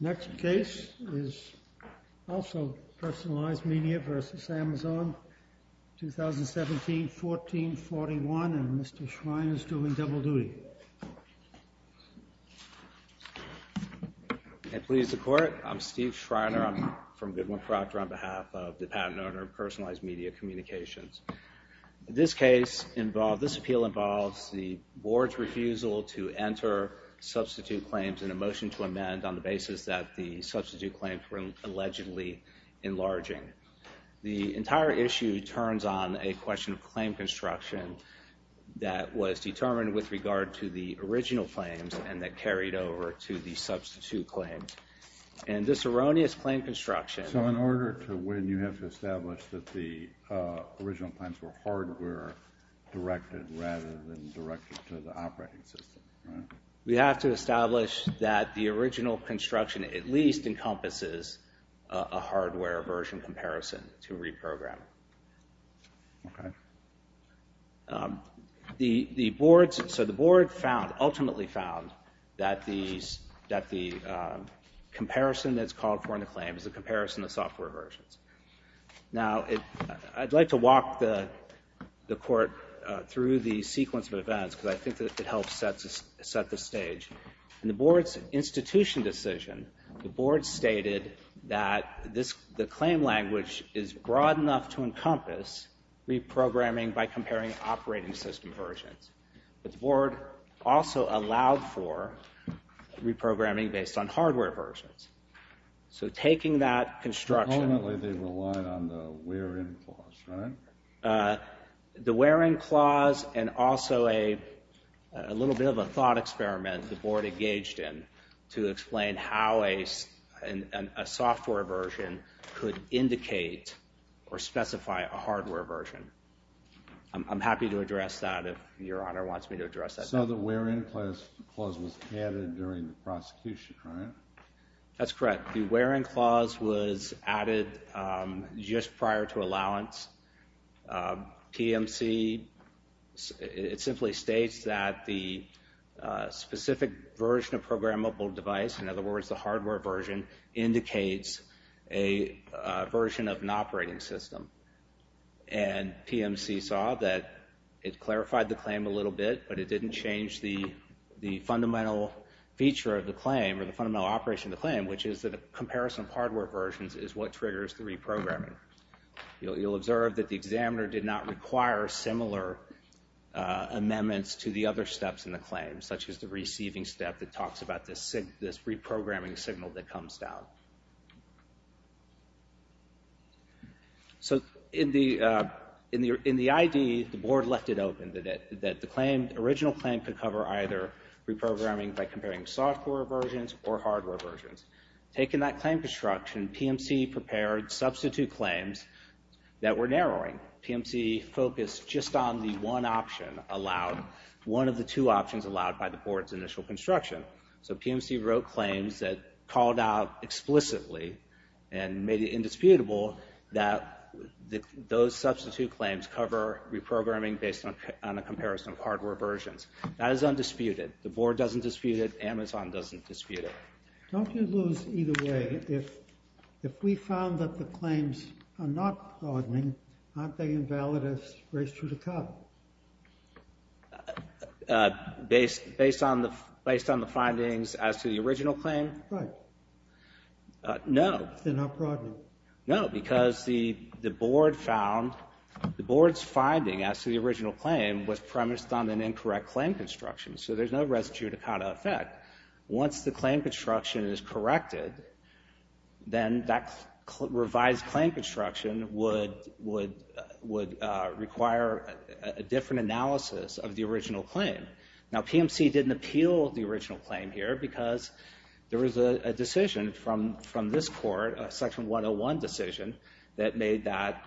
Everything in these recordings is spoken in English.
Next case is also Personalized Media v. Amazon, 2017-14-41, and Mr. Schreiner is due in double duty. Please support. I'm Steve Schreiner. I'm from Goodwin Proctor on behalf of the Patent Owner of Personalized Media Communications. This case involves, this appeal involves the board's refusal to enter substitute claims in a motion to amend on the basis that the substitute claims were allegedly enlarging. The entire issue turns on a question of claim construction that was determined with regard to the original claims and that carried over to the substitute claims. And this erroneous claim construction- The original claims were hardware-directed rather than directed to the operating system. We have to establish that the original construction at least encompasses a hardware version comparison to reprogram. The board found, ultimately found, that the comparison that's called for in the claim is a comparison of software versions. Now, I'd like to walk the court through the sequence of events because I think that it helps set the stage. In the board's institution decision, the board stated that the claim language is broad enough to encompass reprogramming by comparing operating system versions, but the board also allowed for reprogramming based on hardware versions. So taking that construction- Ultimately, they relied on the wear-in clause, right? The wear-in clause and also a little bit of a thought experiment the board engaged in to explain how a software version could indicate or specify a hardware version. I'm happy to address that if Your Honor wants me to address that. So the wear-in clause was added during the prosecution, right? That's correct. The wear-in clause was added just prior to allowance. PMC, it simply states that the specific version of programmable device, in other words, the hardware version, indicates a version of an operating system. And PMC saw that it clarified the claim a little bit, but it didn't change the fundamental feature of the claim or the fundamental operation of the claim, which is that a comparison of hardware versions is what triggers the reprogramming. You'll observe that the examiner did not require similar amendments to the other steps in the claim, such as the receiving step that talks about this reprogramming signal that comes out. So in the ID, the board left it open, that the original claim could cover either reprogramming by comparing software versions or hardware versions. Taking that claim construction, PMC prepared substitute claims that were narrowing. PMC focused just on the one option allowed, one of the two options allowed by the board's initial construction. So PMC wrote claims that called out explicitly and made it indisputable that those substitute claims cover reprogramming based on a comparison of hardware versions. That is undisputed. The board doesn't dispute it. Amazon doesn't dispute it. Don't you lose either way if we found that the claims are not broadening, aren't they invalid as race to the cup? Based on the findings as to the original claim? Right. No. They're not broadening. No, because the board found the board's finding as to the original claim was premised on an incorrect claim construction. So there's no res judicata effect. Once the claim construction is corrected, then that revised claim construction would require a different analysis of the original claim. Now, PMC didn't appeal the original claim here because there was a decision from this court, a section 101 decision, that made that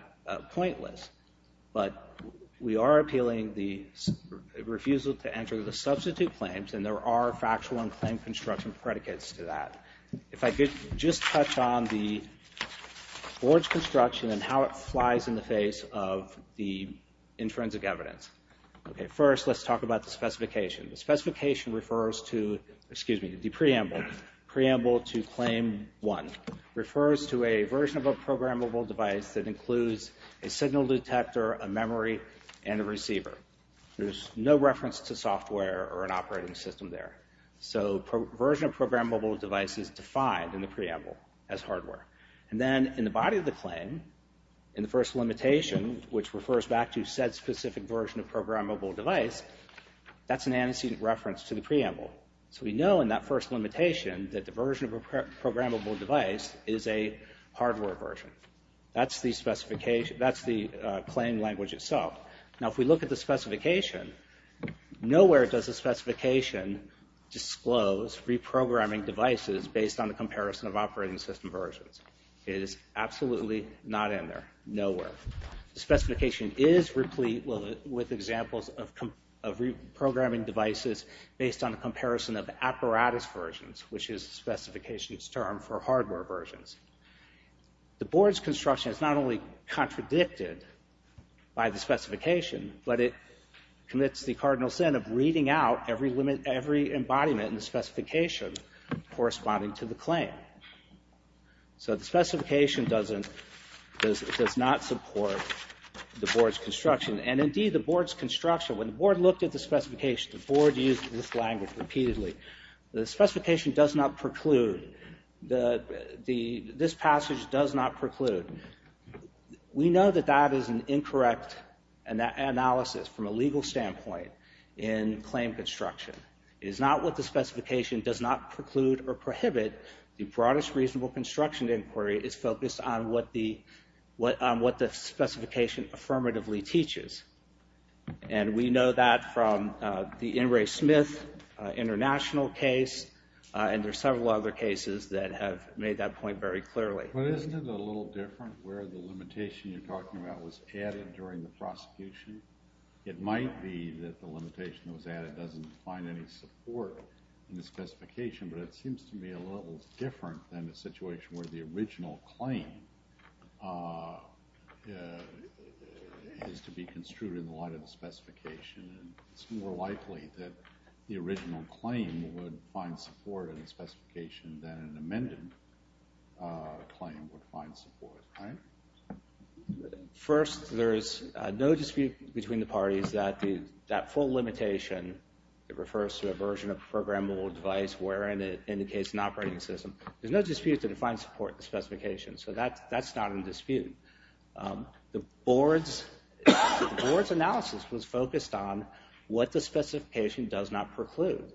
pointless. But we are appealing the refusal to enter the substitute claims, and there are factual and claim construction predicates to that. If I could just touch on the board's construction and how it flies in the face of the intrinsic evidence. First, let's talk about the specification. The specification refers to, excuse me, the preamble, preamble to claim one, refers to a version of a programmable device that includes a signal detector, a memory, and a receiver. There's no reference to software or an operating system there. So version of programmable device is defined in the preamble as hardware. And then in the body of the claim, in the first limitation, which refers back to said specific version of programmable device, that's an antecedent reference to the preamble. So we know in that first limitation that the version of a programmable device is a hardware version. That's the specification, that's the claim language itself. Now, if we look at the specification, nowhere does the specification disclose reprogramming devices based on the comparison of operating system versions. It is absolutely not in there, nowhere. The specification is replete with examples of reprogramming devices based on the comparison of apparatus versions, which is the specification's term for hardware versions. The board's construction is not only contradicted by the specification, but it commits the cardinal sin of reading out every embodiment in the specification corresponding to the claim. So the specification does not support the board's construction. And indeed, the board's construction, when the board looked at the specification, the board used this language repeatedly. The specification does not preclude, this passage does not preclude. We know that that is an incorrect analysis from a legal standpoint in claim construction. It is not what the specification does not preclude or prohibit. The broadest reasonable construction inquiry is focused on what the specification affirmatively teaches. And we know that from the Ingray-Smith international case, and there are several other cases that have made that point very clearly. But isn't it a little different where the limitation you're talking about was added during the prosecution? It might be that the limitation that was added doesn't find any support in the specification, but it seems to me a little different than the situation where the original claim is to be construed in the light of the specification. And it's more likely that the original claim would find support in the specification than an amended claim would find support. First, there is no dispute between the parties that that full limitation, it refers to a version of a programmable device wherein it indicates an operating system. There's no dispute that it finds support in the specification. So that's not in dispute. The board's analysis was focused on what the specification does not preclude.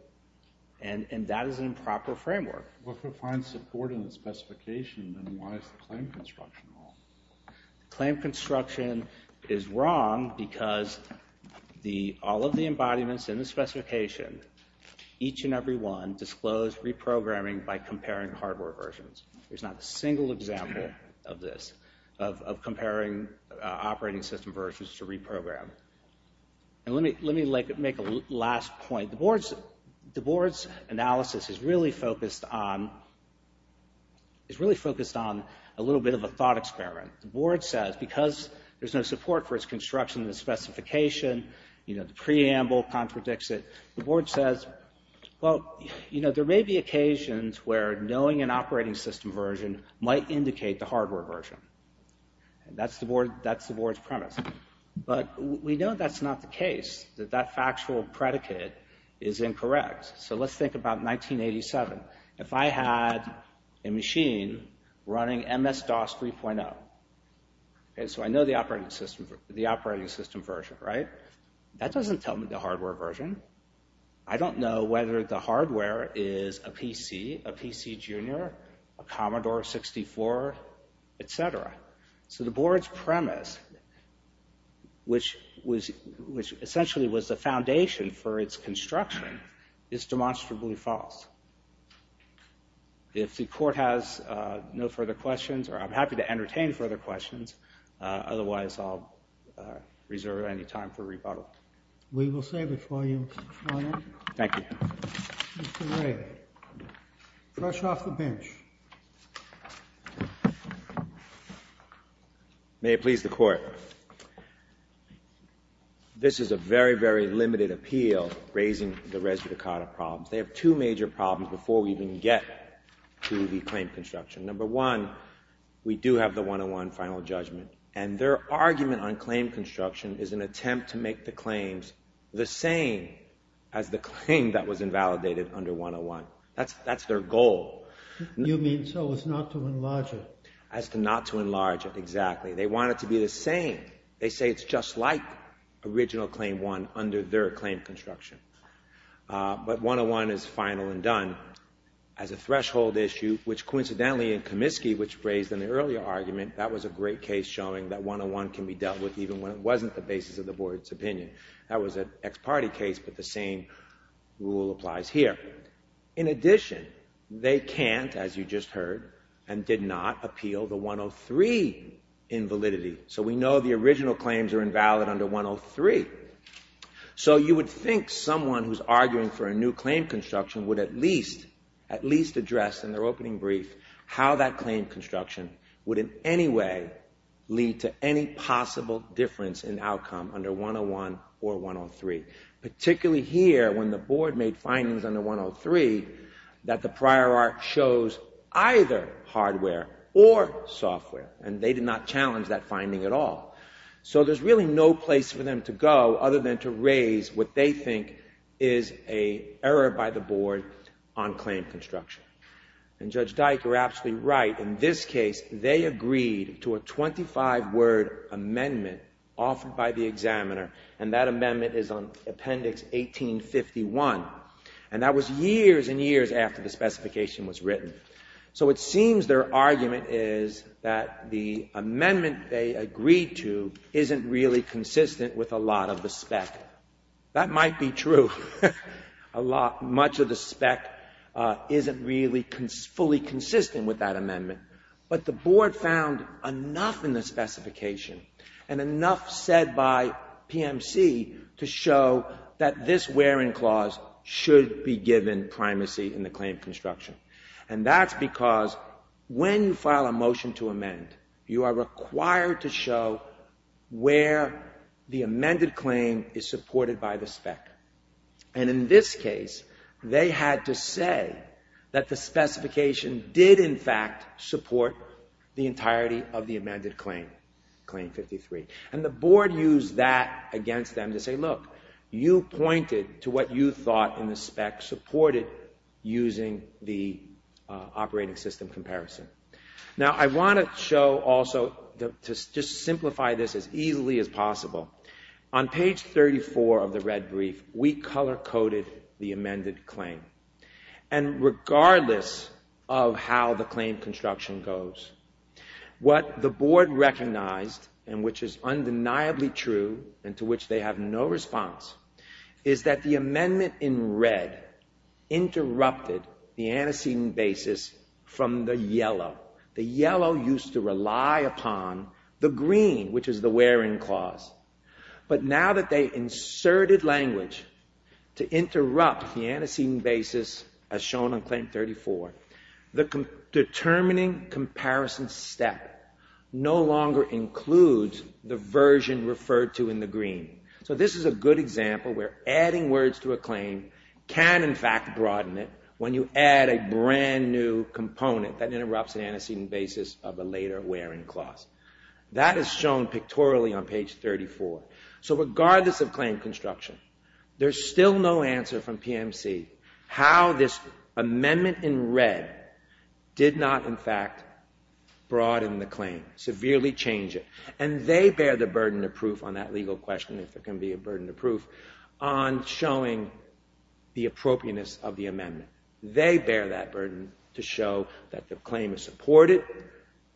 And that is an improper framework. But if it finds support in the specification, then why is the claim construction wrong? Claim construction is wrong because all of the embodiments in the specification, each and every one, disclose reprogramming by comparing hardware versions. There's not a single example of this, of comparing operating system versions to reprogram. And let me make a last point. The board's analysis is really focused on a little bit of a thought experiment. The board says because there's no support for its construction in the specification, you know, the preamble contradicts it. The board says, well, you know, there may be occasions where knowing an operating system version might indicate the hardware version. That's the board's premise. But we know that's not the case, that that factual predicate is incorrect. So let's think about 1987. If I had a machine running MS-DOS 3.0, so I know the operating system version, right? That doesn't tell me the hardware version. I don't know whether the hardware is a PC, a PC Junior, a Commodore 64, etc. So the board's premise, which was, which essentially was the foundation for its construction, is demonstrably false. If the court has no further questions, or I'm happy to entertain further questions. Otherwise, I'll reserve any time for rebuttal. We will save it for you, Mr. Schwanek. Thank you. Mr. Ray, brush off the bench. May it please the court. This is a very, very limited appeal raising the Res Vita Carta problems. They have two major problems before we even get to the claim construction. Number one, we do have the 101 final judgment, and their argument on claim construction is an attempt to make the claims the same as the claim that was invalidated under 101. That's, that's their goal. You mean so as not to enlarge it? As to not to enlarge it, exactly. They want it to be the same. They say it's just like original claim one under their claim construction. But 101 is final and done as a threshold issue, which coincidentally in Comiskey, which raised an earlier argument, that was a great case showing that 101 can be dealt with even when it wasn't the basis of the board's opinion. That was an ex parte case, but the same rule applies here. In addition, they can't, as you just heard, and did not appeal the 103 invalidity, so we know the original claims are invalid under 103. So you would think someone who's arguing for a new claim construction would at least, at least address in their opening brief, how that claim construction would in any way lead to any possible difference in outcome under 101 or 103. Particularly here, when the board made findings under 103, that the prior art shows either hardware or software, and they did not challenge that finding at all. So there's really no place for them to go other than to raise what they think is a error by the board on claim construction. And Judge Dyke, you're absolutely right. In this case, they agreed to a 25 word amendment offered by the examiner, and that amendment is on Appendix 1851, and that was years and years after the specification was written. So it seems their argument is that the amendment they agreed to isn't really consistent with a lot of the spec. That might be true. A lot, much of the spec isn't really fully consistent with that amendment, but the board made a policy to show that this where in clause should be given primacy in the claim construction, and that's because when you file a motion to amend, you are required to show where the amended claim is supported by the spec. And in this case, they had to say that the specification did in fact support the entirety of the amended claim, Claim 53. And the board used that against them to say, look, you pointed to what you thought in the spec supported using the operating system comparison. Now, I want to show also to just simplify this as easily as possible. On page 34 of the red brief, we color coded the amended claim. And regardless of how the claim construction goes, what the board recognized, and which is undeniably true and to which they have no response, is that the amendment in red interrupted the antecedent basis from the yellow. The yellow used to rely upon the green, which is the where in clause. But now that they inserted language to interrupt the antecedent basis as shown on page 34, that is shown pictorially on page 34. So regardless of claim construction, there's still no answer from PMC how this amendment in red did not in fact broaden the claim, severely change it. And they bear the burden of proof on that legal question, if there can be a burden of proof, on showing the appropriateness of the amendment. They bear that burden to show that the claim is supported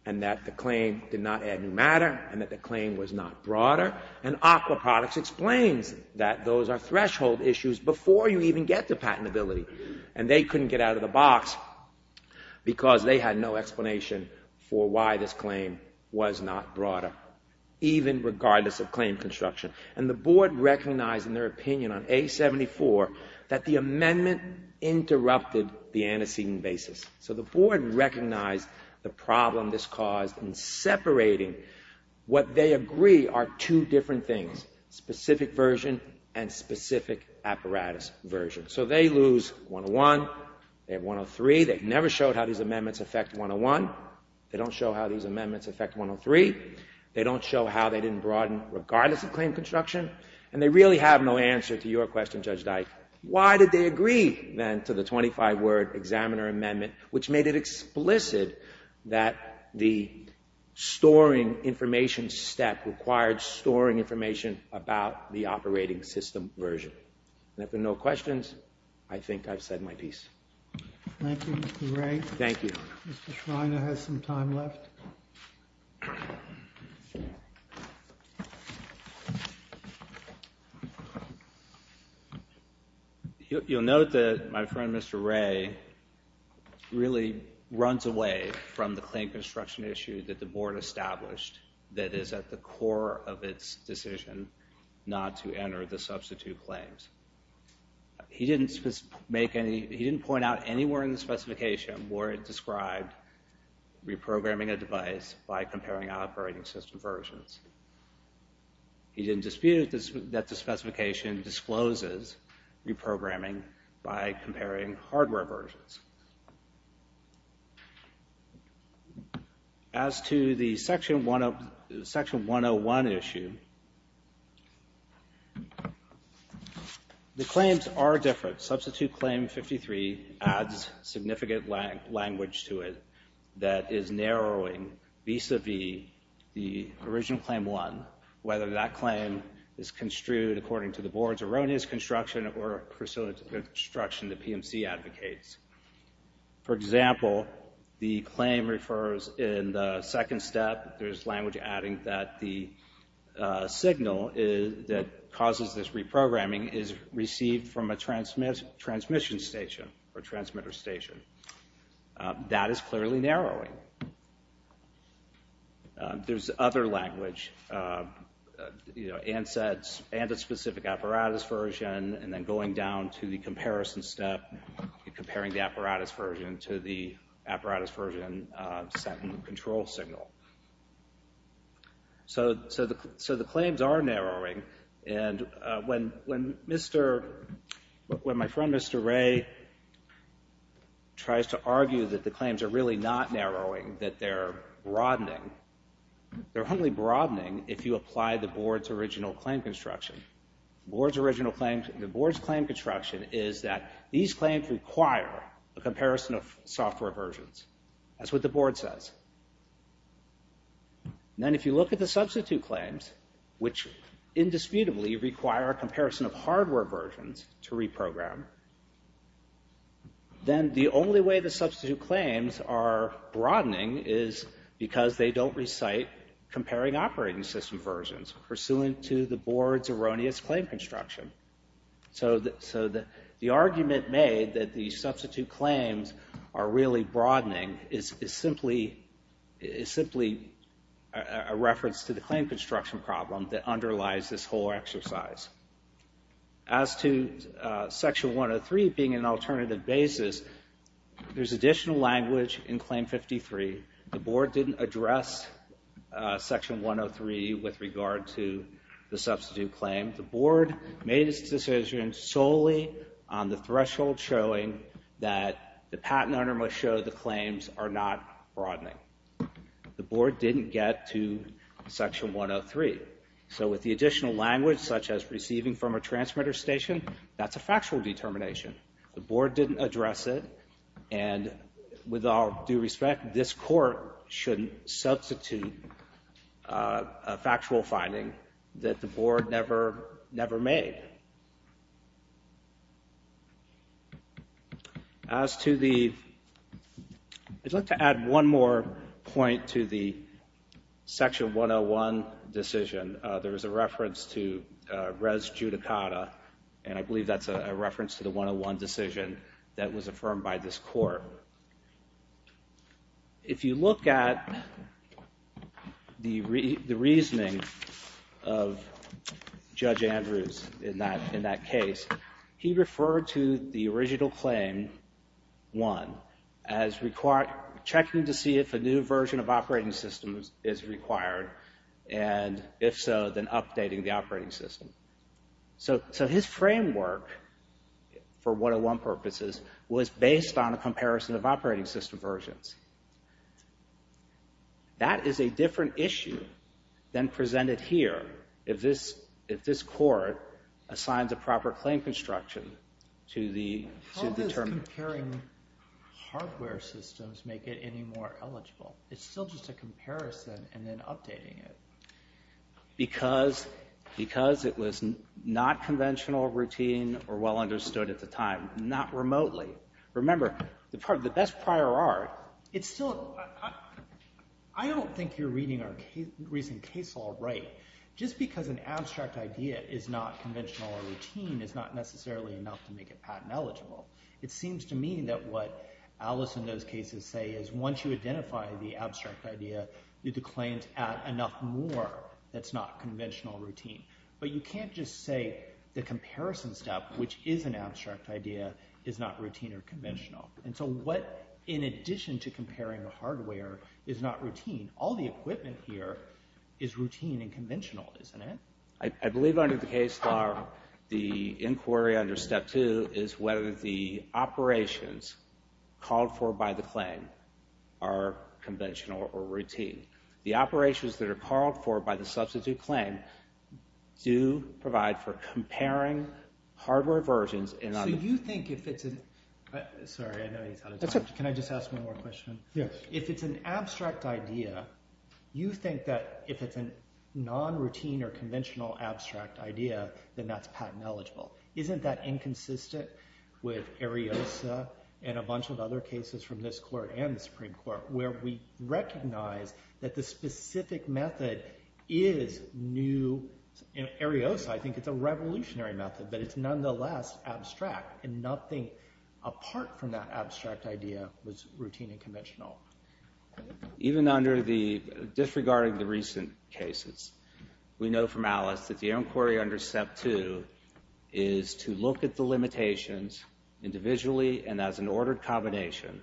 and that the claim did not add new matter and that the claim was not broader. And AQUA Products explains that those are threshold issues before you even get to patentability. And they couldn't get out of the box because they had no explanation for why this claim was not broader. Even regardless of claim construction. And the board recognized in their opinion on A-74 that the amendment interrupted the antecedent basis. So the board recognized the problem this caused in separating what they agree are two different things, specific version and specific apparatus version. So they lose 101, they have 103. They never showed how these amendments affect 101. They don't show how these amendments affect 103. They don't show how they didn't broaden, regardless of claim construction. And they really have no answer to your question, Judge Dike. Why did they agree then to the 25 word examiner amendment, which made it explicit that the storing information step required storing information about the operating system version? And if there are no questions, I think I've said my piece. Thank you, Mr. Ray. Thank you. Mr. Schreiner has some time left. You'll note that my friend, Mr. Ray, really runs away from the claim construction issue that the board established that is at the core of its decision not to enter the substitute claims. He didn't make any, he didn't point out anywhere in the specification where it was the operating system versions. He didn't dispute that the specification discloses reprogramming by comparing hardware versions. As to the Section 101 issue, the claims are different. Substitute Claim 53 adds significant language to it that is narrowing vis-a-vis the original Claim 1, whether that claim is construed according to the board's erroneous construction or the construction the PMC advocates. For example, the claim refers in the second step, there's language adding that the signal that causes this reprogramming is received from a transmission station or transmitter station. That is clearly narrowing. There's other language, and a specific apparatus version, and then going down to the comparison step, comparing the apparatus version to the apparatus version sent in the control signal. So the claims are narrowing, and when my friend, Mr. Ray, tries to argue that the claims are really not narrowing, that they're broadening, they're only broadening if you apply the board's original claim construction. The board's original claims, the board's claim construction is that these claims require a comparison of software versions. That's what the board says. Then if you look at the substitute claims, which indisputably require a comparison of software versions, then the only way the substitute claims are broadening is because they don't recite comparing operating system versions pursuant to the board's erroneous claim construction. So the argument made that the substitute claims are really broadening is simply a reference to the claim construction problem that underlies this whole exercise. As to Section 103 being an alternative basis, there's additional language in Claim 53. The board didn't address Section 103 with regard to the substitute claim. The board made its decision solely on the threshold showing that the patent owner must show the claims are not broadening. The board didn't get to Section 103. So with the additional language, such as receiving from a transmitter station, that's a factual determination. The board didn't address it. And with all due respect, this court shouldn't substitute a factual finding that the board never made. As to the, I'd like to add one more point to the Section 101 decision. There was a reference to res judicata, and I believe that's a reference to the 101 decision that was affirmed by this court. However, if you look at the reasoning of Judge Andrews in that case, he referred to the original claim, one, as checking to see if a new version of operating systems is required, and if so, then updating the operating system. So his framework, for 101 purposes, was based on a comparison of operating system versions. That is a different issue than presented here if this court assigns a proper claim construction to the determination. How does comparing hardware systems make it any more eligible? It's still just a comparison and then updating it. Because it was not conventional, routine, or well understood at the time, not remotely. Remember, the best prior art, it's still, I don't think you're reading our recent case all right. Just because an abstract idea is not conventional or routine is not necessarily enough to make it patent eligible. It seems to me that what Alice in those cases say is once you identify the abstract idea, the claims add enough more that's not conventional routine. But you can't just say the comparison step, which is an abstract idea, is not routine or conventional. And so what, in addition to comparing the hardware, is not routine? All the equipment here is routine and conventional, isn't it? I believe under the case law, the inquiry under step two is whether the operations called for by the claim are conventional or routine. The operations that are called for by the substitute claim do provide for comparing hardware versions. So you think if it's a, sorry, I know he's out of time. Can I just ask one more question? Yeah. If it's an abstract idea, you think that if it's a non-routine or conventional abstract idea, then that's patent eligible. Isn't that inconsistent with Ariosa and a bunch of other cases from this court and the Supreme Court where we recognize that the specific method is new? Ariosa, I think it's a revolutionary method, but it's nonetheless abstract and nothing apart from that abstract idea was routine and conventional. Even under the, disregarding the recent cases, we know from Alice that the inquiry under step two is to look at the limitations individually and as an ordered combination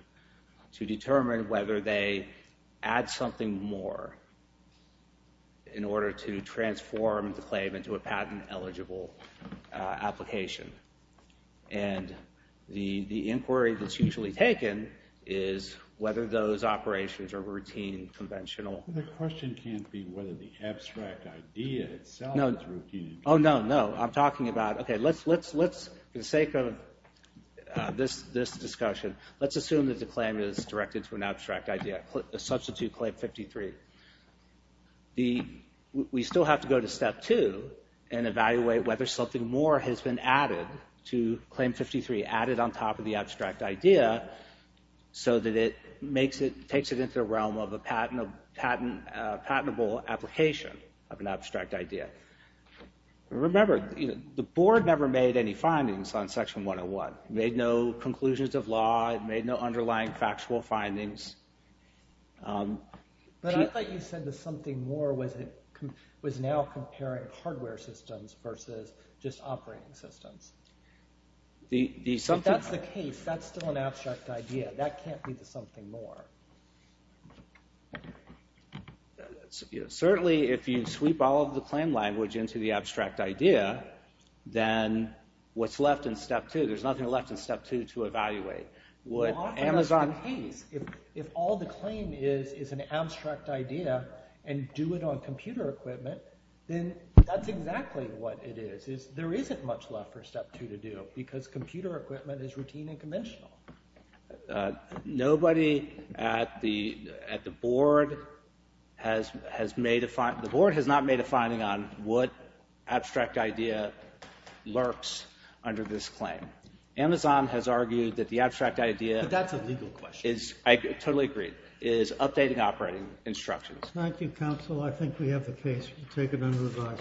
to determine whether they add something more in order to transform the claim into a patent eligible application. And the inquiry that's usually taken is whether those operations are routine, conventional. The question can't be whether the abstract idea itself is routine and conventional. Oh, no, no. I'm talking about, okay, let's, for the sake of this discussion, let's assume that the claim is directed to an abstract idea, a substitute claim 53. The, we still have to go to step two and evaluate whether something more has been added to claim 53, added on top of the abstract idea so that it makes it, takes it into the realm of a patentable application of an abstract idea. Remember, the board never made any findings on section 101, made no conclusions of law, made no underlying factual findings. But I thought you said the something more was it, was now comparing hardware systems versus just operating systems. The, the, so that's the case. That's still an abstract idea. That can't be the something more. Certainly, if you sweep all of the claim language into the abstract idea, then what's left in step two, there's nothing left in step two to evaluate. What Amazon pays. If all the claim is, is an abstract idea and do it on computer equipment, then that's exactly what it is, is there isn't much left for step two to do because computer equipment is routine and conventional. Nobody at the, at the board has, has made a, the board has not made a finding on what abstract idea lurks under this claim. Amazon has argued that the abstract idea. But that's a legal question. Is, I totally agree, is updating operating instructions. Thank you, counsel. I think we have the case. We'll take it under review.